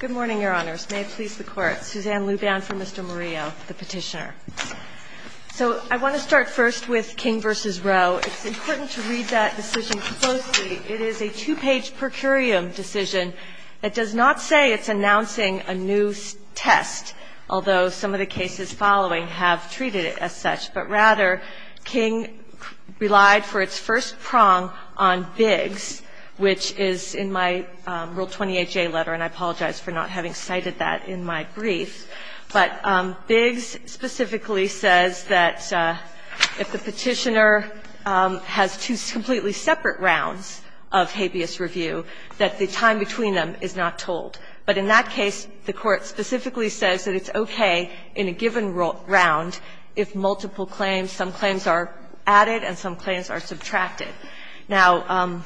Good morning, Your Honors. May it please the Court. Suzanne Luban for Mr. Murillo, the petitioner. So I want to start first with King v. Roe. It's important to read that decision closely. It is a two-page per curiam decision. It does not say it's announcing a new test, although some of the cases following have treated it as such. But rather, King relied for its first prong on Biggs, which is in my Rule 20HA letter, and I apologize for not having cited that in my brief. But Biggs specifically says that if the petitioner has two completely separate rounds of habeas review, that the time between them is not told. But in that case, the Court specifically says that it's okay in a given round if multiple claims, some claims are added and some claims are subtracted. Now,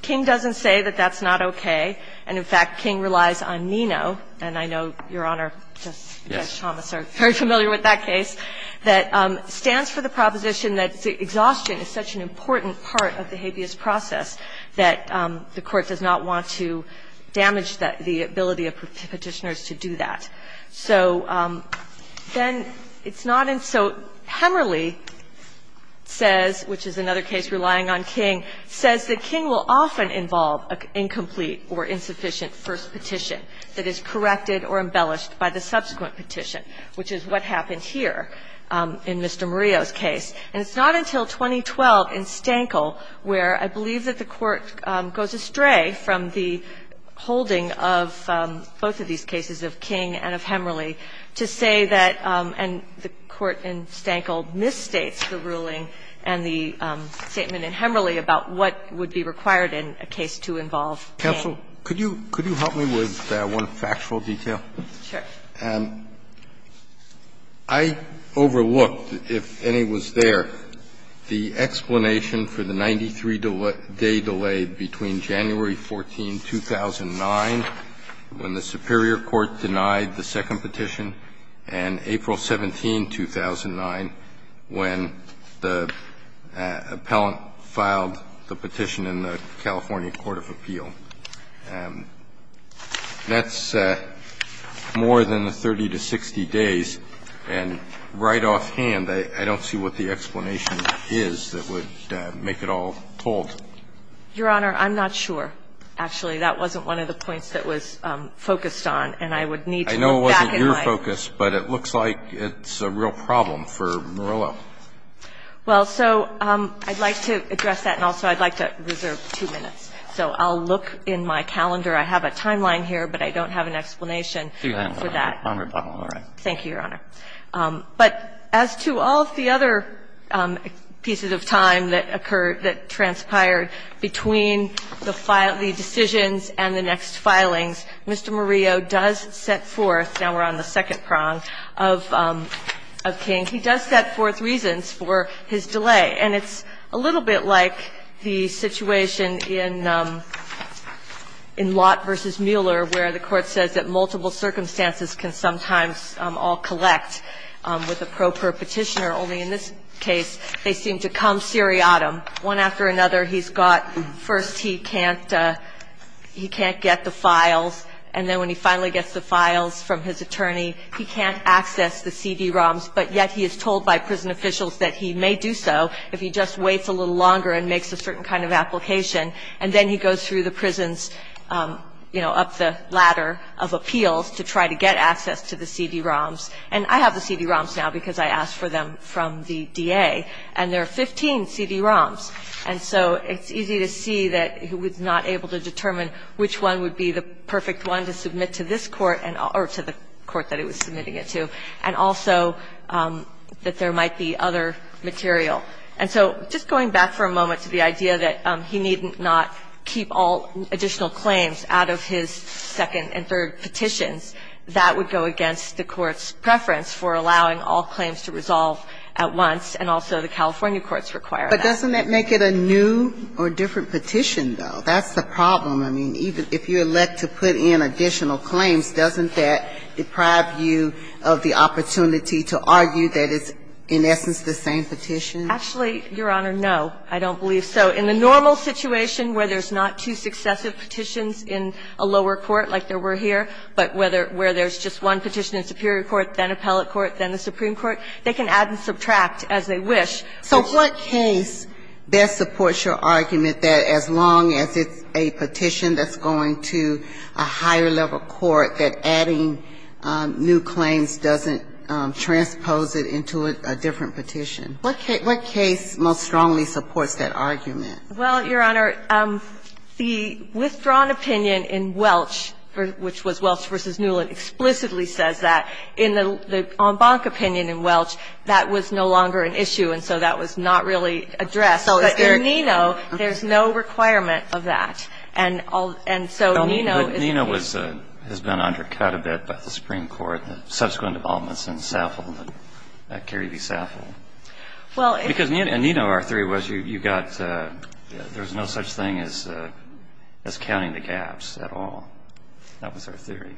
King doesn't say that that's not okay. And, in fact, King relies on NINO, and I know Your Honor, Justice Chambliss are very familiar with that case, that stands for the proposition that exhaustion is such an important part of the habeas process that the Court does not want to damage the ability of petitioners to do that. So then it's not in so — Hemerly says, which is another case relying on King, says that King will often involve an incomplete or insufficient first petition that is corrected or embellished by the subsequent petition, which is what happened here in Mr. Murillo's case. And it's not until 2012 in Stankle where I believe that the Court goes astray from the holding of both of these cases, of King and of Hemerly, to say that — and the Court in Stankle misstates the ruling and the statement in Hemerly about what would be required in a case to involve King. Roberts, Counsel, could you help me with one factual detail? Sure. I overlooked, if any was there, the explanation for the 93-day delay between January 14, 2009, when the superior court denied the second petition, and April 17, 2009, when the appellant filed the petition in the California Court of Appeal. That's more than 30 to 60 days. And right offhand, I don't see what the explanation is that would make it all told. Your Honor, I'm not sure, actually. That wasn't one of the points that was focused on, and I would need to look back in my — I don't have an explanation for that, Your Honor. I don't have an explanation for that, Your Honor. Well, so I'd like to address that, and also I'd like to reserve two minutes. So I'll look in my calendar. I have a timeline here, but I don't have an explanation for that. Thank you, Your Honor. But as to all of the other pieces of time that occurred, that transpired between the decisions and the next filings, Mr. Murillo does set forth — now we're on the second prong — of King, he does set forth reasons for his delay. And it's a little bit like the situation in Lott v. Mueller, where the Court says that multiple circumstances can sometimes all collect with a pro-perpetitioner. Only in this case, they seem to come seriatim. One after another, he's got — first, he can't — he can't get the files. And then when he finally gets the files from his attorney, he can't access the CD-ROMs. But yet he is told by prison officials that he may do so if he just waits a little longer and makes a certain kind of application. And then he goes through the prisons, you know, up the ladder of appeals to try to get access to the CD-ROMs. And I have the CD-ROMs now because I asked for them from the D.A. And there are 15 CD-ROMs. And so it's easy to see that he was not able to determine which one would be the perfect one to submit to this Court and — or to the Court that he was submitting it to, and also that there might be other material. And so just going back for a moment to the idea that he need not keep all additional claims out of his second and third petitions, that would go against the Court's requirement. And so the California courts require that. But doesn't that make it a new or different petition, though? That's the problem. I mean, even if you're led to put in additional claims, doesn't that deprive you of the opportunity to argue that it's in essence the same petition? Actually, Your Honor, no, I don't believe so. In the normal situation where there's not two successive petitions in a lower court like there were here, but where there's just one petition in superior court, then So what case best supports your argument that as long as it's a petition that's going to a higher level court, that adding new claims doesn't transpose it into a different petition? What case most strongly supports that argument? Well, Your Honor, the withdrawn opinion in Welch, which was Welch v. Newland, explicitly says that. In the Ombank opinion in Welch, that was no longer an issue. And so that was not really addressed. But in Neno, there's no requirement of that. And so Neno is But Neno has been undercut a bit by the Supreme Court, the subsequent involvements in Saffold and Carey v. Saffold. Well, if Because in Neno, our theory was you've got, there's no such thing as counting the gaps at all. That was our theory.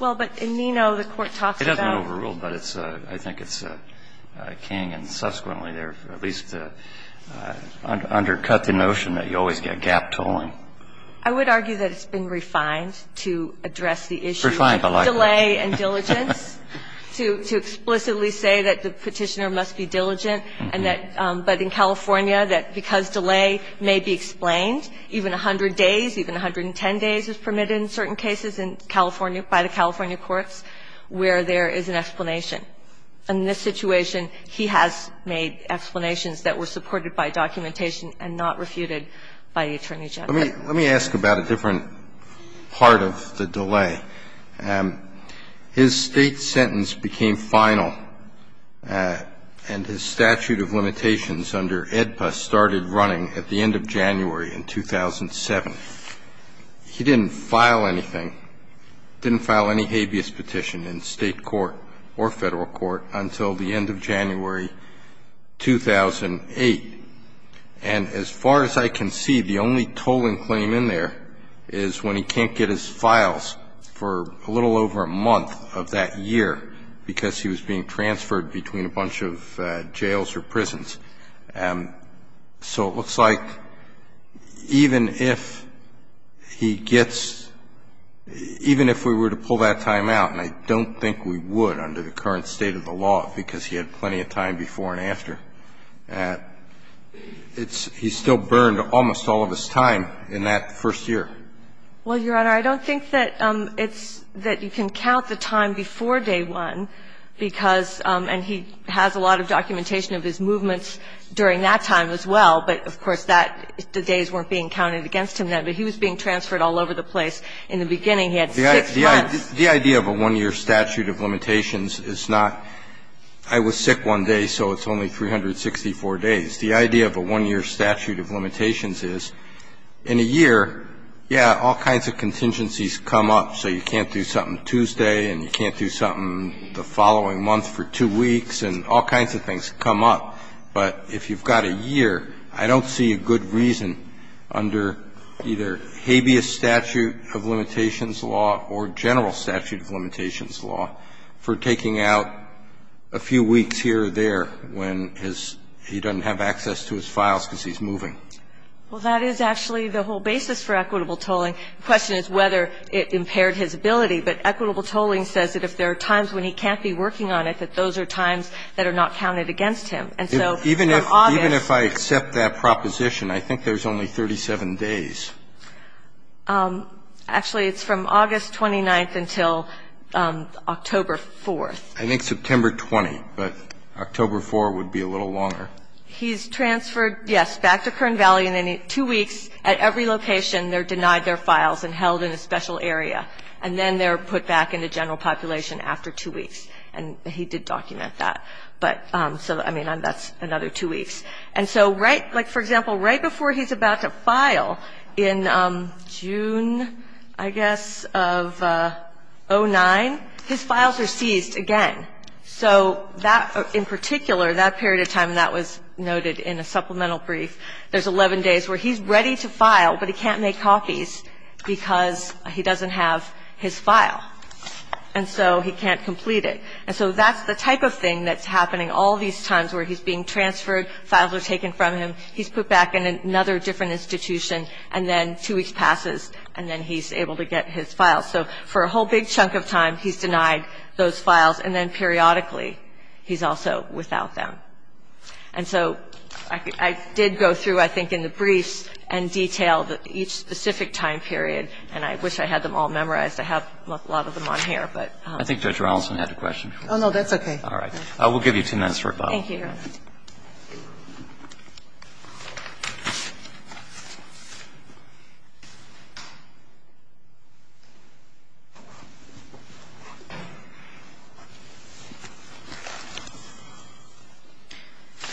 Well, but in Neno, the Court talks about It hasn't been overruled, but I think it's king, and subsequently there, at least undercut the notion that you always get gap tolling. I would argue that it's been refined to address the issue of delay and diligence, to explicitly say that the petitioner must be diligent and that, but in California, that because delay may be explained, even 100 days, even 110 days is permitted in certain cases in California, by the California courts, where there is an explanation. And in this situation, he has made explanations that were supported by documentation and not refuted by the attorney general. Let me ask about a different part of the delay. His State sentence became final, and his statute of limitations under AEDPA started running at the end of January in 2007. He didn't file anything, didn't file any habeas petition in State court or Federal court until the end of January 2008. And as far as I can see, the only tolling claim in there is when he can't get his files for a little over a month of that year because he was being transferred between a bunch of jails or prisons. So it looks like even if he gets – even if we were to pull that time out, and I don't think we would under the current state of the law because he had plenty of time before and after, it's – he still burned almost all of his time in that first year. Well, Your Honor, I don't think that it's – that you can count the time before day 1 because – and he has a lot of documentation of his movements during that time as well, but of course, that – the days weren't being counted against him then. But he was being transferred all over the place. In the beginning, he had six months. The idea of a one-year statute of limitations is not, I was sick one day, so it's only 364 days. The idea of a one-year statute of limitations is, in a year, yeah, all kinds of contingencies come up, so you can't do something Tuesday and you can't do something the following month for two weeks, and all kinds of things come up. But if you've got a year, I don't see a good reason under either habeas statute of limitations law or general statute of limitations law for taking out a few weeks here or there when his – he doesn't have access to his files because he's moving. Well, that is actually the whole basis for equitable tolling. The question is whether it impaired his ability, but equitable tolling says that if there are times when he can't be working on it, that those are times that are not counted against him. And so from August – Even if I accept that proposition, I think there's only 37 days. Actually, it's from August 29th until October 4th. I think September 20th, but October 4th would be a little longer. He's transferred, yes, back to Kern Valley, and then two weeks at every location they're denied their files and held in a special area. And then they're put back in the general population after two weeks. And he did document that, but – so, I mean, that's another two weeks. And so right – like, for example, right before he's about to file in June, I guess, of 2009, his files are seized again. So that – in particular, that period of time, and that was noted in a supplemental brief, there's 11 days where he's ready to file, but he can't make copies because he doesn't have his file. And so he can't complete it. And so that's the type of thing that's happening all these times where he's being transferred, files are taken from him, he's put back in another different institution, and then two weeks passes, and then he's able to get his files. So for a whole big chunk of time, he's denied those files, and then periodically he's also without them. And so I did go through, I think, in the briefs and detail each specific time period, and I wish I had them all memorized. I have a lot of them on here, but – I think Judge Ronaldson had a question before. Oh, no, that's okay. All right. We'll give you two minutes for a follow-up. Thank you, Your Honor.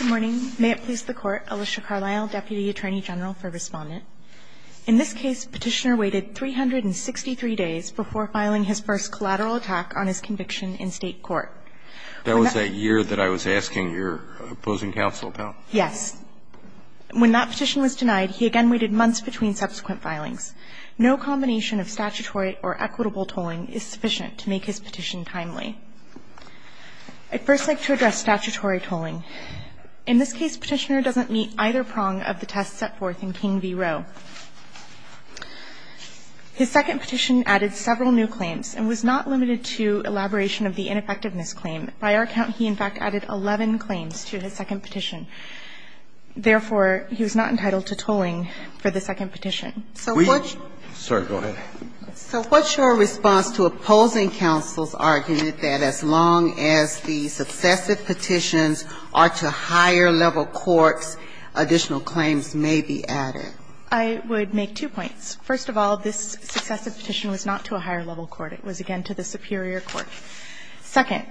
Good morning. May it please the Court, Alicia Carlyle, Deputy Attorney General for Respondent. In this case, Petitioner waited 363 days before filing his first collateral attack on his conviction in State court. That was that year that I was asking your opposing counsel about? Yes. When that petition was denied, he again waited months between subsequent filings. No combination of statutory or equitable tolling is sufficient to make his petition timely. I'd first like to address statutory tolling. In this case, Petitioner doesn't meet either prong of the test set forth in King v. Roe. His second petition added several new claims and was not limited to elaboration of the ineffectiveness claim. By our count, he, in fact, added 11 claims to his second petition. Therefore, he was not entitled to tolling for the second petition. So what's your response to opposing counsel's argument that Petitioner's claim that as long as the successive petitions are to higher-level courts, additional claims may be added? I would make two points. First of all, this successive petition was not to a higher-level court. It was, again, to the superior court. Second,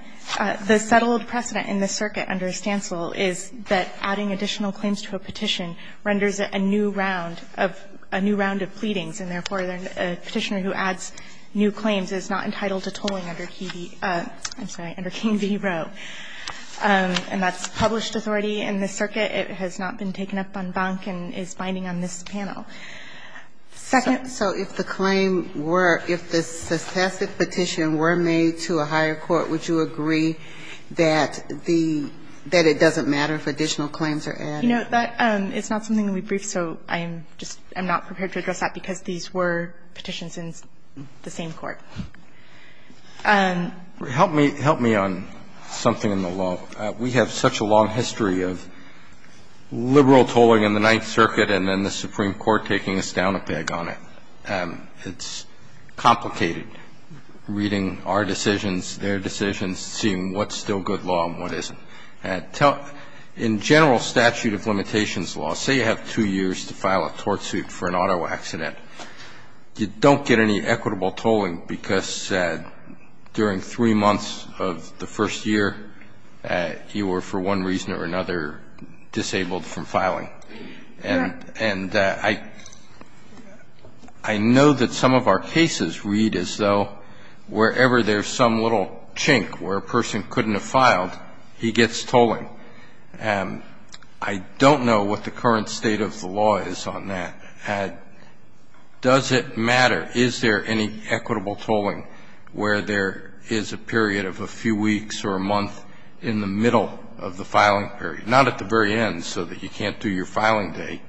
the settled precedent in this circuit under Stancil is that adding additional claims to a petition renders it a new round of new round of pleadings, and therefore a Petitioner who adds new claims is not entitled to tolling under King v. Roe. And that's published authority in this circuit. It has not been taken up on bunk and is binding on this panel. Second. So if the claim were – if the successive petition were made to a higher court, would you agree that the – that it doesn't matter if additional claims are added? You know, that is not something that we briefed, so I'm just – I'm not prepared to address that because these were petitions in the same court. And – Help me – help me on something in the law. We have such a long history of liberal tolling in the Ninth Circuit and then the Supreme Court taking a stout a peg on it. It's complicated reading our decisions, their decisions, seeing what's still good law and what isn't. In general statute of limitations law, say you have two years to file a tort suit for an auto accident, you don't get any equitable tolling because during three months of the first year you were for one reason or another disabled from filing. And I know that some of our cases read as though wherever there's some little chink where a person couldn't have filed, he gets tolling. I don't know what the current state of the law is on that. Does it matter? Is there any equitable tolling where there is a period of a few weeks or a month in the middle of the filing period, not at the very end so that you can't do your filing date,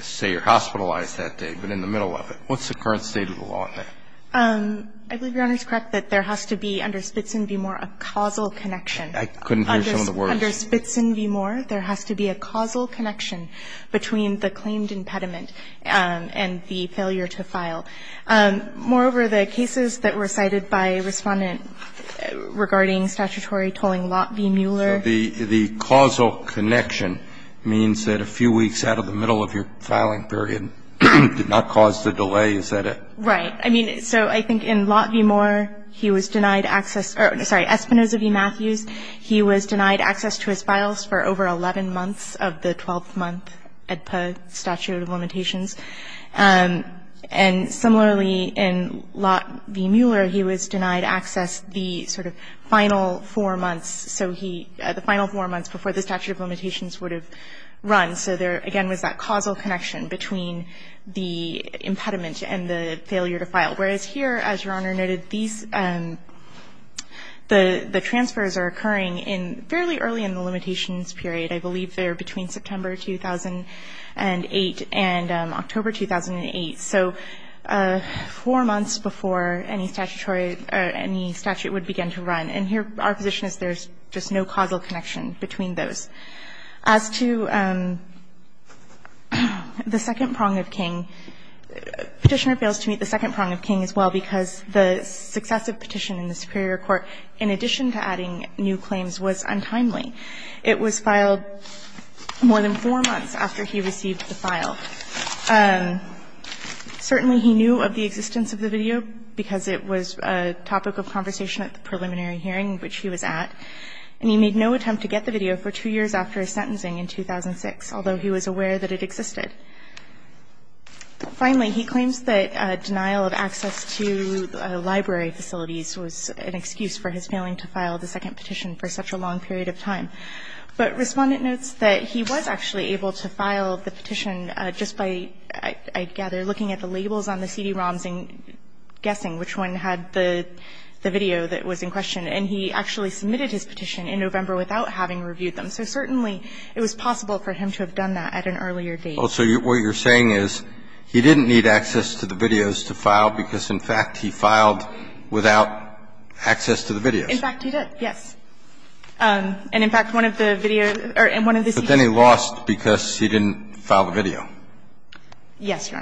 say you're hospitalized that day, but in the middle of it? What's the current state of the law on that? I believe Your Honor is correct that there has to be under Spitzen be more a causal connection. I couldn't hear some of the words. Under Spitzen v. Moore, there has to be a causal connection between the claimed impediment and the failure to file. Moreover, the cases that were cited by Respondent regarding statutory tolling, Lot v. Mueller. So the causal connection means that a few weeks out of the middle of your filing period did not cause the delay, is that it? Right. I mean, so I think in Lot v. Moore he was denied access or, sorry, Espinoza v. Matthews. He was denied access to his files for over 11 months of the 12-month EDPA statute of limitations. And similarly, in Lot v. Mueller, he was denied access the sort of final four months. So he, the final four months before the statute of limitations would have run. So there again was that causal connection between the impediment and the failure to file. Whereas here, as Your Honor noted, these, the transfers are occurring in, fairly early in the limitations period. I believe they're between September 2008 and October 2008. So four months before any statutory or any statute would begin to run. And here our position is there's just no causal connection between those. As to the second prong of King, Petitioner fails to meet the second prong of King as well, because the successive petition in the superior court, in addition to adding new claims, was untimely. It was filed more than four months after he received the file. Certainly he knew of the existence of the video, because it was a topic of conversation at the preliminary hearing, which he was at. And he made no attempt to get the video for two years after his sentencing in 2006, although he was aware that it existed. Finally, he claims that denial of access to library facilities was an excuse for his failing to file the second petition for such a long period of time. But Respondent notes that he was actually able to file the petition just by, I gather, looking at the labels on the CD-ROMs and guessing which one had the video that was in question. And he actually submitted his petition in November without having reviewed them. So certainly it was possible for him to have done that at an earlier date. So what you're saying is he didn't need access to the videos to file because, in fact, he filed without access to the videos. In fact, he did, yes. And in fact, one of the video or one of the CD-ROMs. But then he lost because he didn't file the video. Yes, Your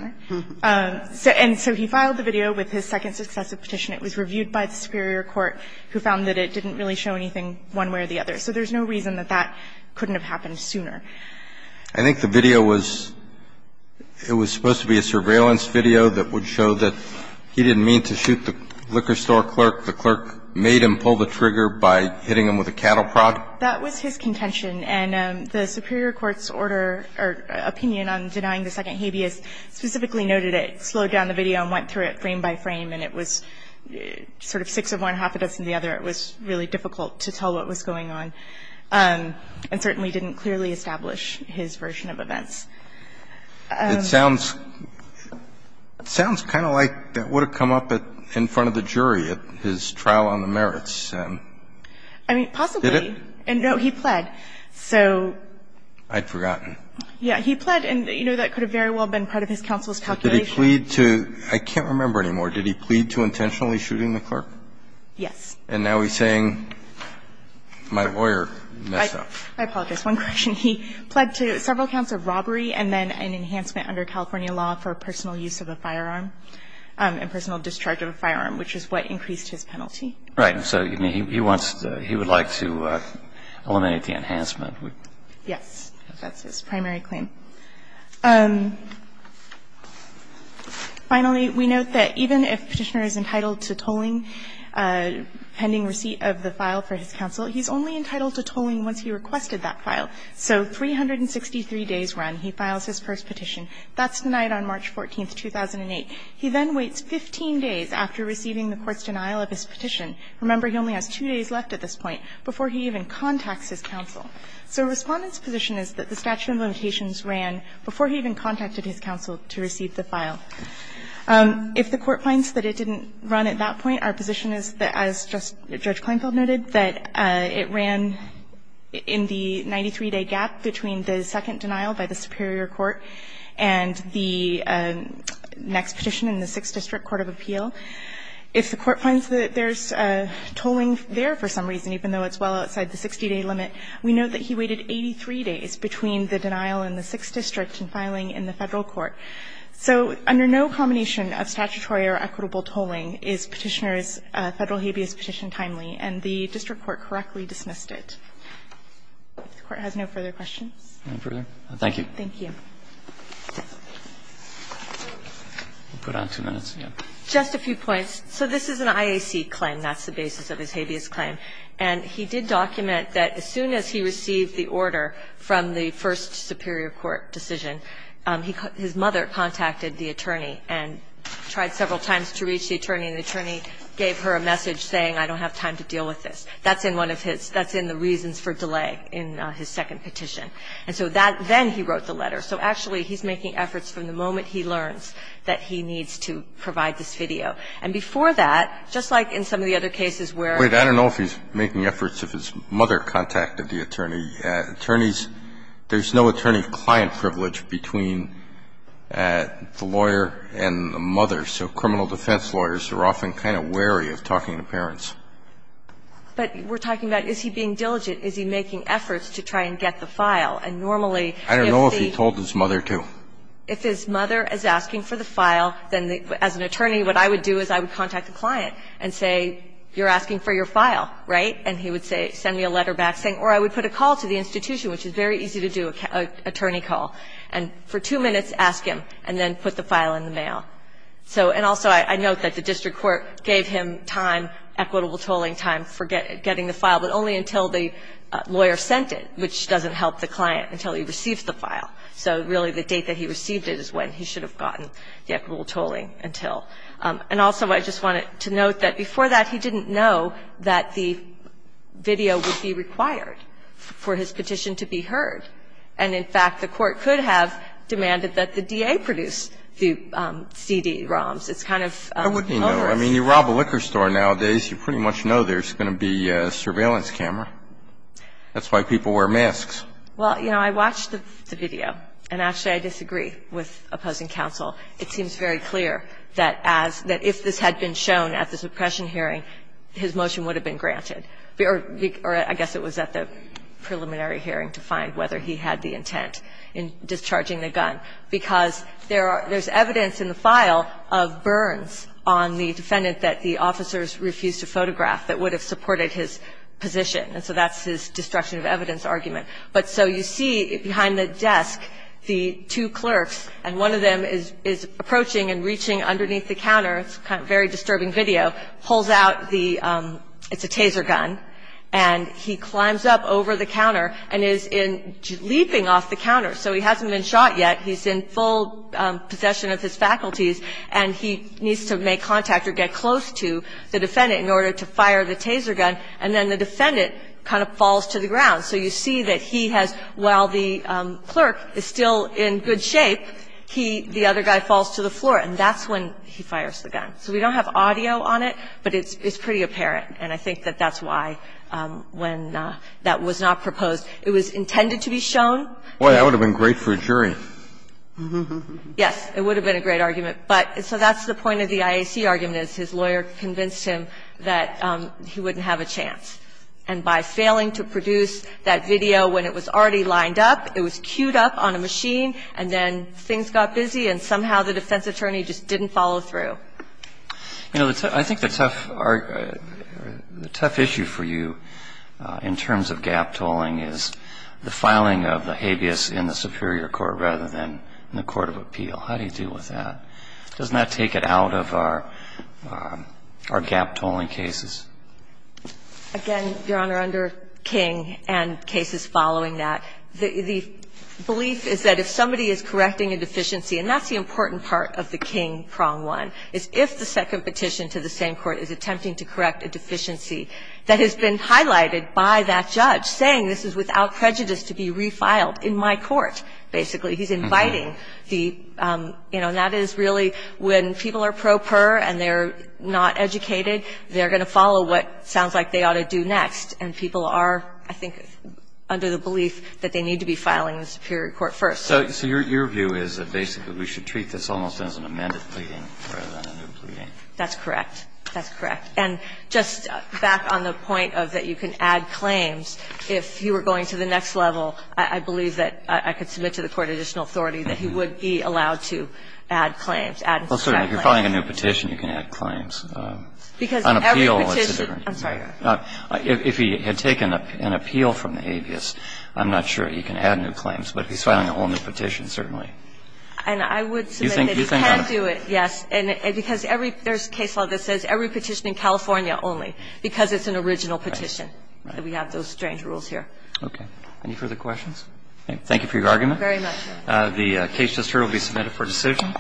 Honor. And so he filed the video with his second successive petition. It was reviewed by the superior court, who found that it didn't really show anything one way or the other. So there's no reason that that couldn't have happened sooner. I think the video was, it was supposed to be a surveillance video that would show that he didn't mean to shoot the liquor store clerk. The clerk made him pull the trigger by hitting him with a cattle prod. That was his contention. And the superior court's order or opinion on denying the second habeas specifically noted it slowed down the video and went through it frame by frame. And it was sort of six of one, half of this and the other. It was really difficult to tell what was going on. And certainly didn't clearly establish his version of events. It sounds kind of like that would have come up in front of the jury at his trial on the merits. I mean, possibly. Did it? And no, he pled. I'd forgotten. Yeah, he pled. And, you know, that could have very well been part of his counsel's calculation. Did he plead to – I can't remember anymore. Did he plead to intentionally shooting the clerk? Yes. And now he's saying my lawyer messed up. I apologize. One question. He pled to several counts of robbery and then an enhancement under California law for personal use of a firearm and personal discharge of a firearm, which is what increased his penalty. Right. So he wants to – he would like to eliminate the enhancement. Yes. That's his primary claim. Finally, we note that even if Petitioner is entitled to tolling, pending receipt of the file for his counsel, he's only entitled to tolling once he requested that file. So 363 days run, he files his first petition. That's denied on March 14, 2008. He then waits 15 days after receiving the court's denial of his petition. Remember, he only has two days left at this point before he even contacts his counsel. So Respondent's position is that the statute of limitations ran before he even contacted his counsel to receive the file. If the Court finds that it didn't run at that point, our position is that, as Judge Kleinfeld noted, that it ran in the 93-day gap between the second denial by the superior court and the next petition in the Sixth District Court of Appeal. If the Court finds that there's tolling there for some reason, even though it's well known, we note that he waited 83 days between the denial in the Sixth District and filing in the Federal court. So under no combination of statutory or equitable tolling is Petitioner's Federal habeas petition timely, and the district court correctly dismissed it. If the Court has no further questions. Roberts, thank you. Thank you. We'll put on two minutes. Just a few points. So this is an IAC claim. That's the basis of his habeas claim. And he did document that as soon as he received the order from the first superior court decision, his mother contacted the attorney and tried several times to reach the attorney, and the attorney gave her a message saying, I don't have time to deal with this. That's in one of his – that's in the reasons for delay in his second petition. And so that – then he wrote the letter. So actually, he's making efforts from the moment he learns that he needs to provide this video. And before that, just like in some of the other cases where – But he's making efforts if his mother contacted the attorney. Attorneys – there's no attorney-client privilege between the lawyer and the mother. So criminal defense lawyers are often kind of wary of talking to parents. But we're talking about, is he being diligent? Is he making efforts to try and get the file? And normally, if the – I don't know if he told his mother to. If his mother is asking for the file, then as an attorney, what I would do is I would write, and he would say – send me a letter back saying – or I would put a call to the institution, which is very easy to do, an attorney call, and for two minutes ask him, and then put the file in the mail. So – and also, I note that the district court gave him time, equitable tolling time, for getting the file, but only until the lawyer sent it, which doesn't help the client until he receives the file. So really, the date that he received it is when he should have gotten the equitable tolling until. And also, I just wanted to note that before that, he didn't know that the video would be required for his petition to be heard. And in fact, the court could have demanded that the DA produce the CD ROMs. It's kind of – I wouldn't know. I mean, you rob a liquor store nowadays, you pretty much know there's going to be a surveillance camera. That's why people wear masks. Well, you know, I watched the video. And actually, I disagree with opposing counsel. It seems very clear that as – that if this had been shown at the suppression hearing, his motion would have been granted, or I guess it was at the preliminary hearing to find whether he had the intent in discharging the gun, because there are – there's evidence in the file of burns on the defendant that the officers refused to photograph that would have supported his position. And so that's his destruction of evidence argument. But so you see behind the desk the two clerks, and one of them is approaching and reaching underneath the counter. It's a very disturbing video. Pulls out the – it's a taser gun. And he climbs up over the counter and is leaping off the counter. So he hasn't been shot yet. He's in full possession of his faculties, and he needs to make contact or get close to the defendant in order to fire the taser gun. And then the defendant kind of falls to the ground. So you see that he has – while the clerk is still in good shape, he – the other guy falls to the floor. And that's when he fires the gun. So we don't have audio on it, but it's pretty apparent. And I think that that's why, when that was not proposed, it was intended to be shown. Boy, that would have been great for a jury. Yes. It would have been a great argument. But so that's the point of the IAC argument, is his lawyer convinced him that he wouldn't have a chance. And by failing to produce that video when it was already lined up, it was cued up on a machine, and then things got busy, and somehow the defense attorney just didn't follow through. You know, I think the tough – the tough issue for you in terms of gap tolling is the filing of the habeas in the superior court rather than in the court of appeal. How do you deal with that? Doesn't that take it out of our – our gap tolling cases? Again, Your Honor, under King and cases following that, the belief is that if somebody is correcting a deficiency, and that's the important part of the King prong one, is if the second petition to the same court is attempting to correct a deficiency that has been highlighted by that judge, saying this is without prejudice to be refiled in my court, basically, he's inviting the – you know, and that is really when people are not educated, they're going to follow what sounds like they ought to do next. And people are, I think, under the belief that they need to be filing in the superior court first. So your view is that basically we should treat this almost as an amended plea rather than a new plea? That's correct. That's correct. And just back on the point of that you can add claims, if you were going to the next level, I believe that I could submit to the court additional authority that he would be allowed to add claims, add and subtract claims. Well, certainly. If you're filing a new petition, you can add claims. Because every petition – I'm sorry, Your Honor. If he had taken an appeal from the habeas, I'm not sure he can add new claims. But if he's filing a whole new petition, certainly. And I would submit that he can do it, yes. And because every – there's a case law that says every petition in California only, because it's an original petition. We have those strange rules here. Okay. Any further questions? Thank you for your argument. Thank you very much. The case just heard will be submitted for decision.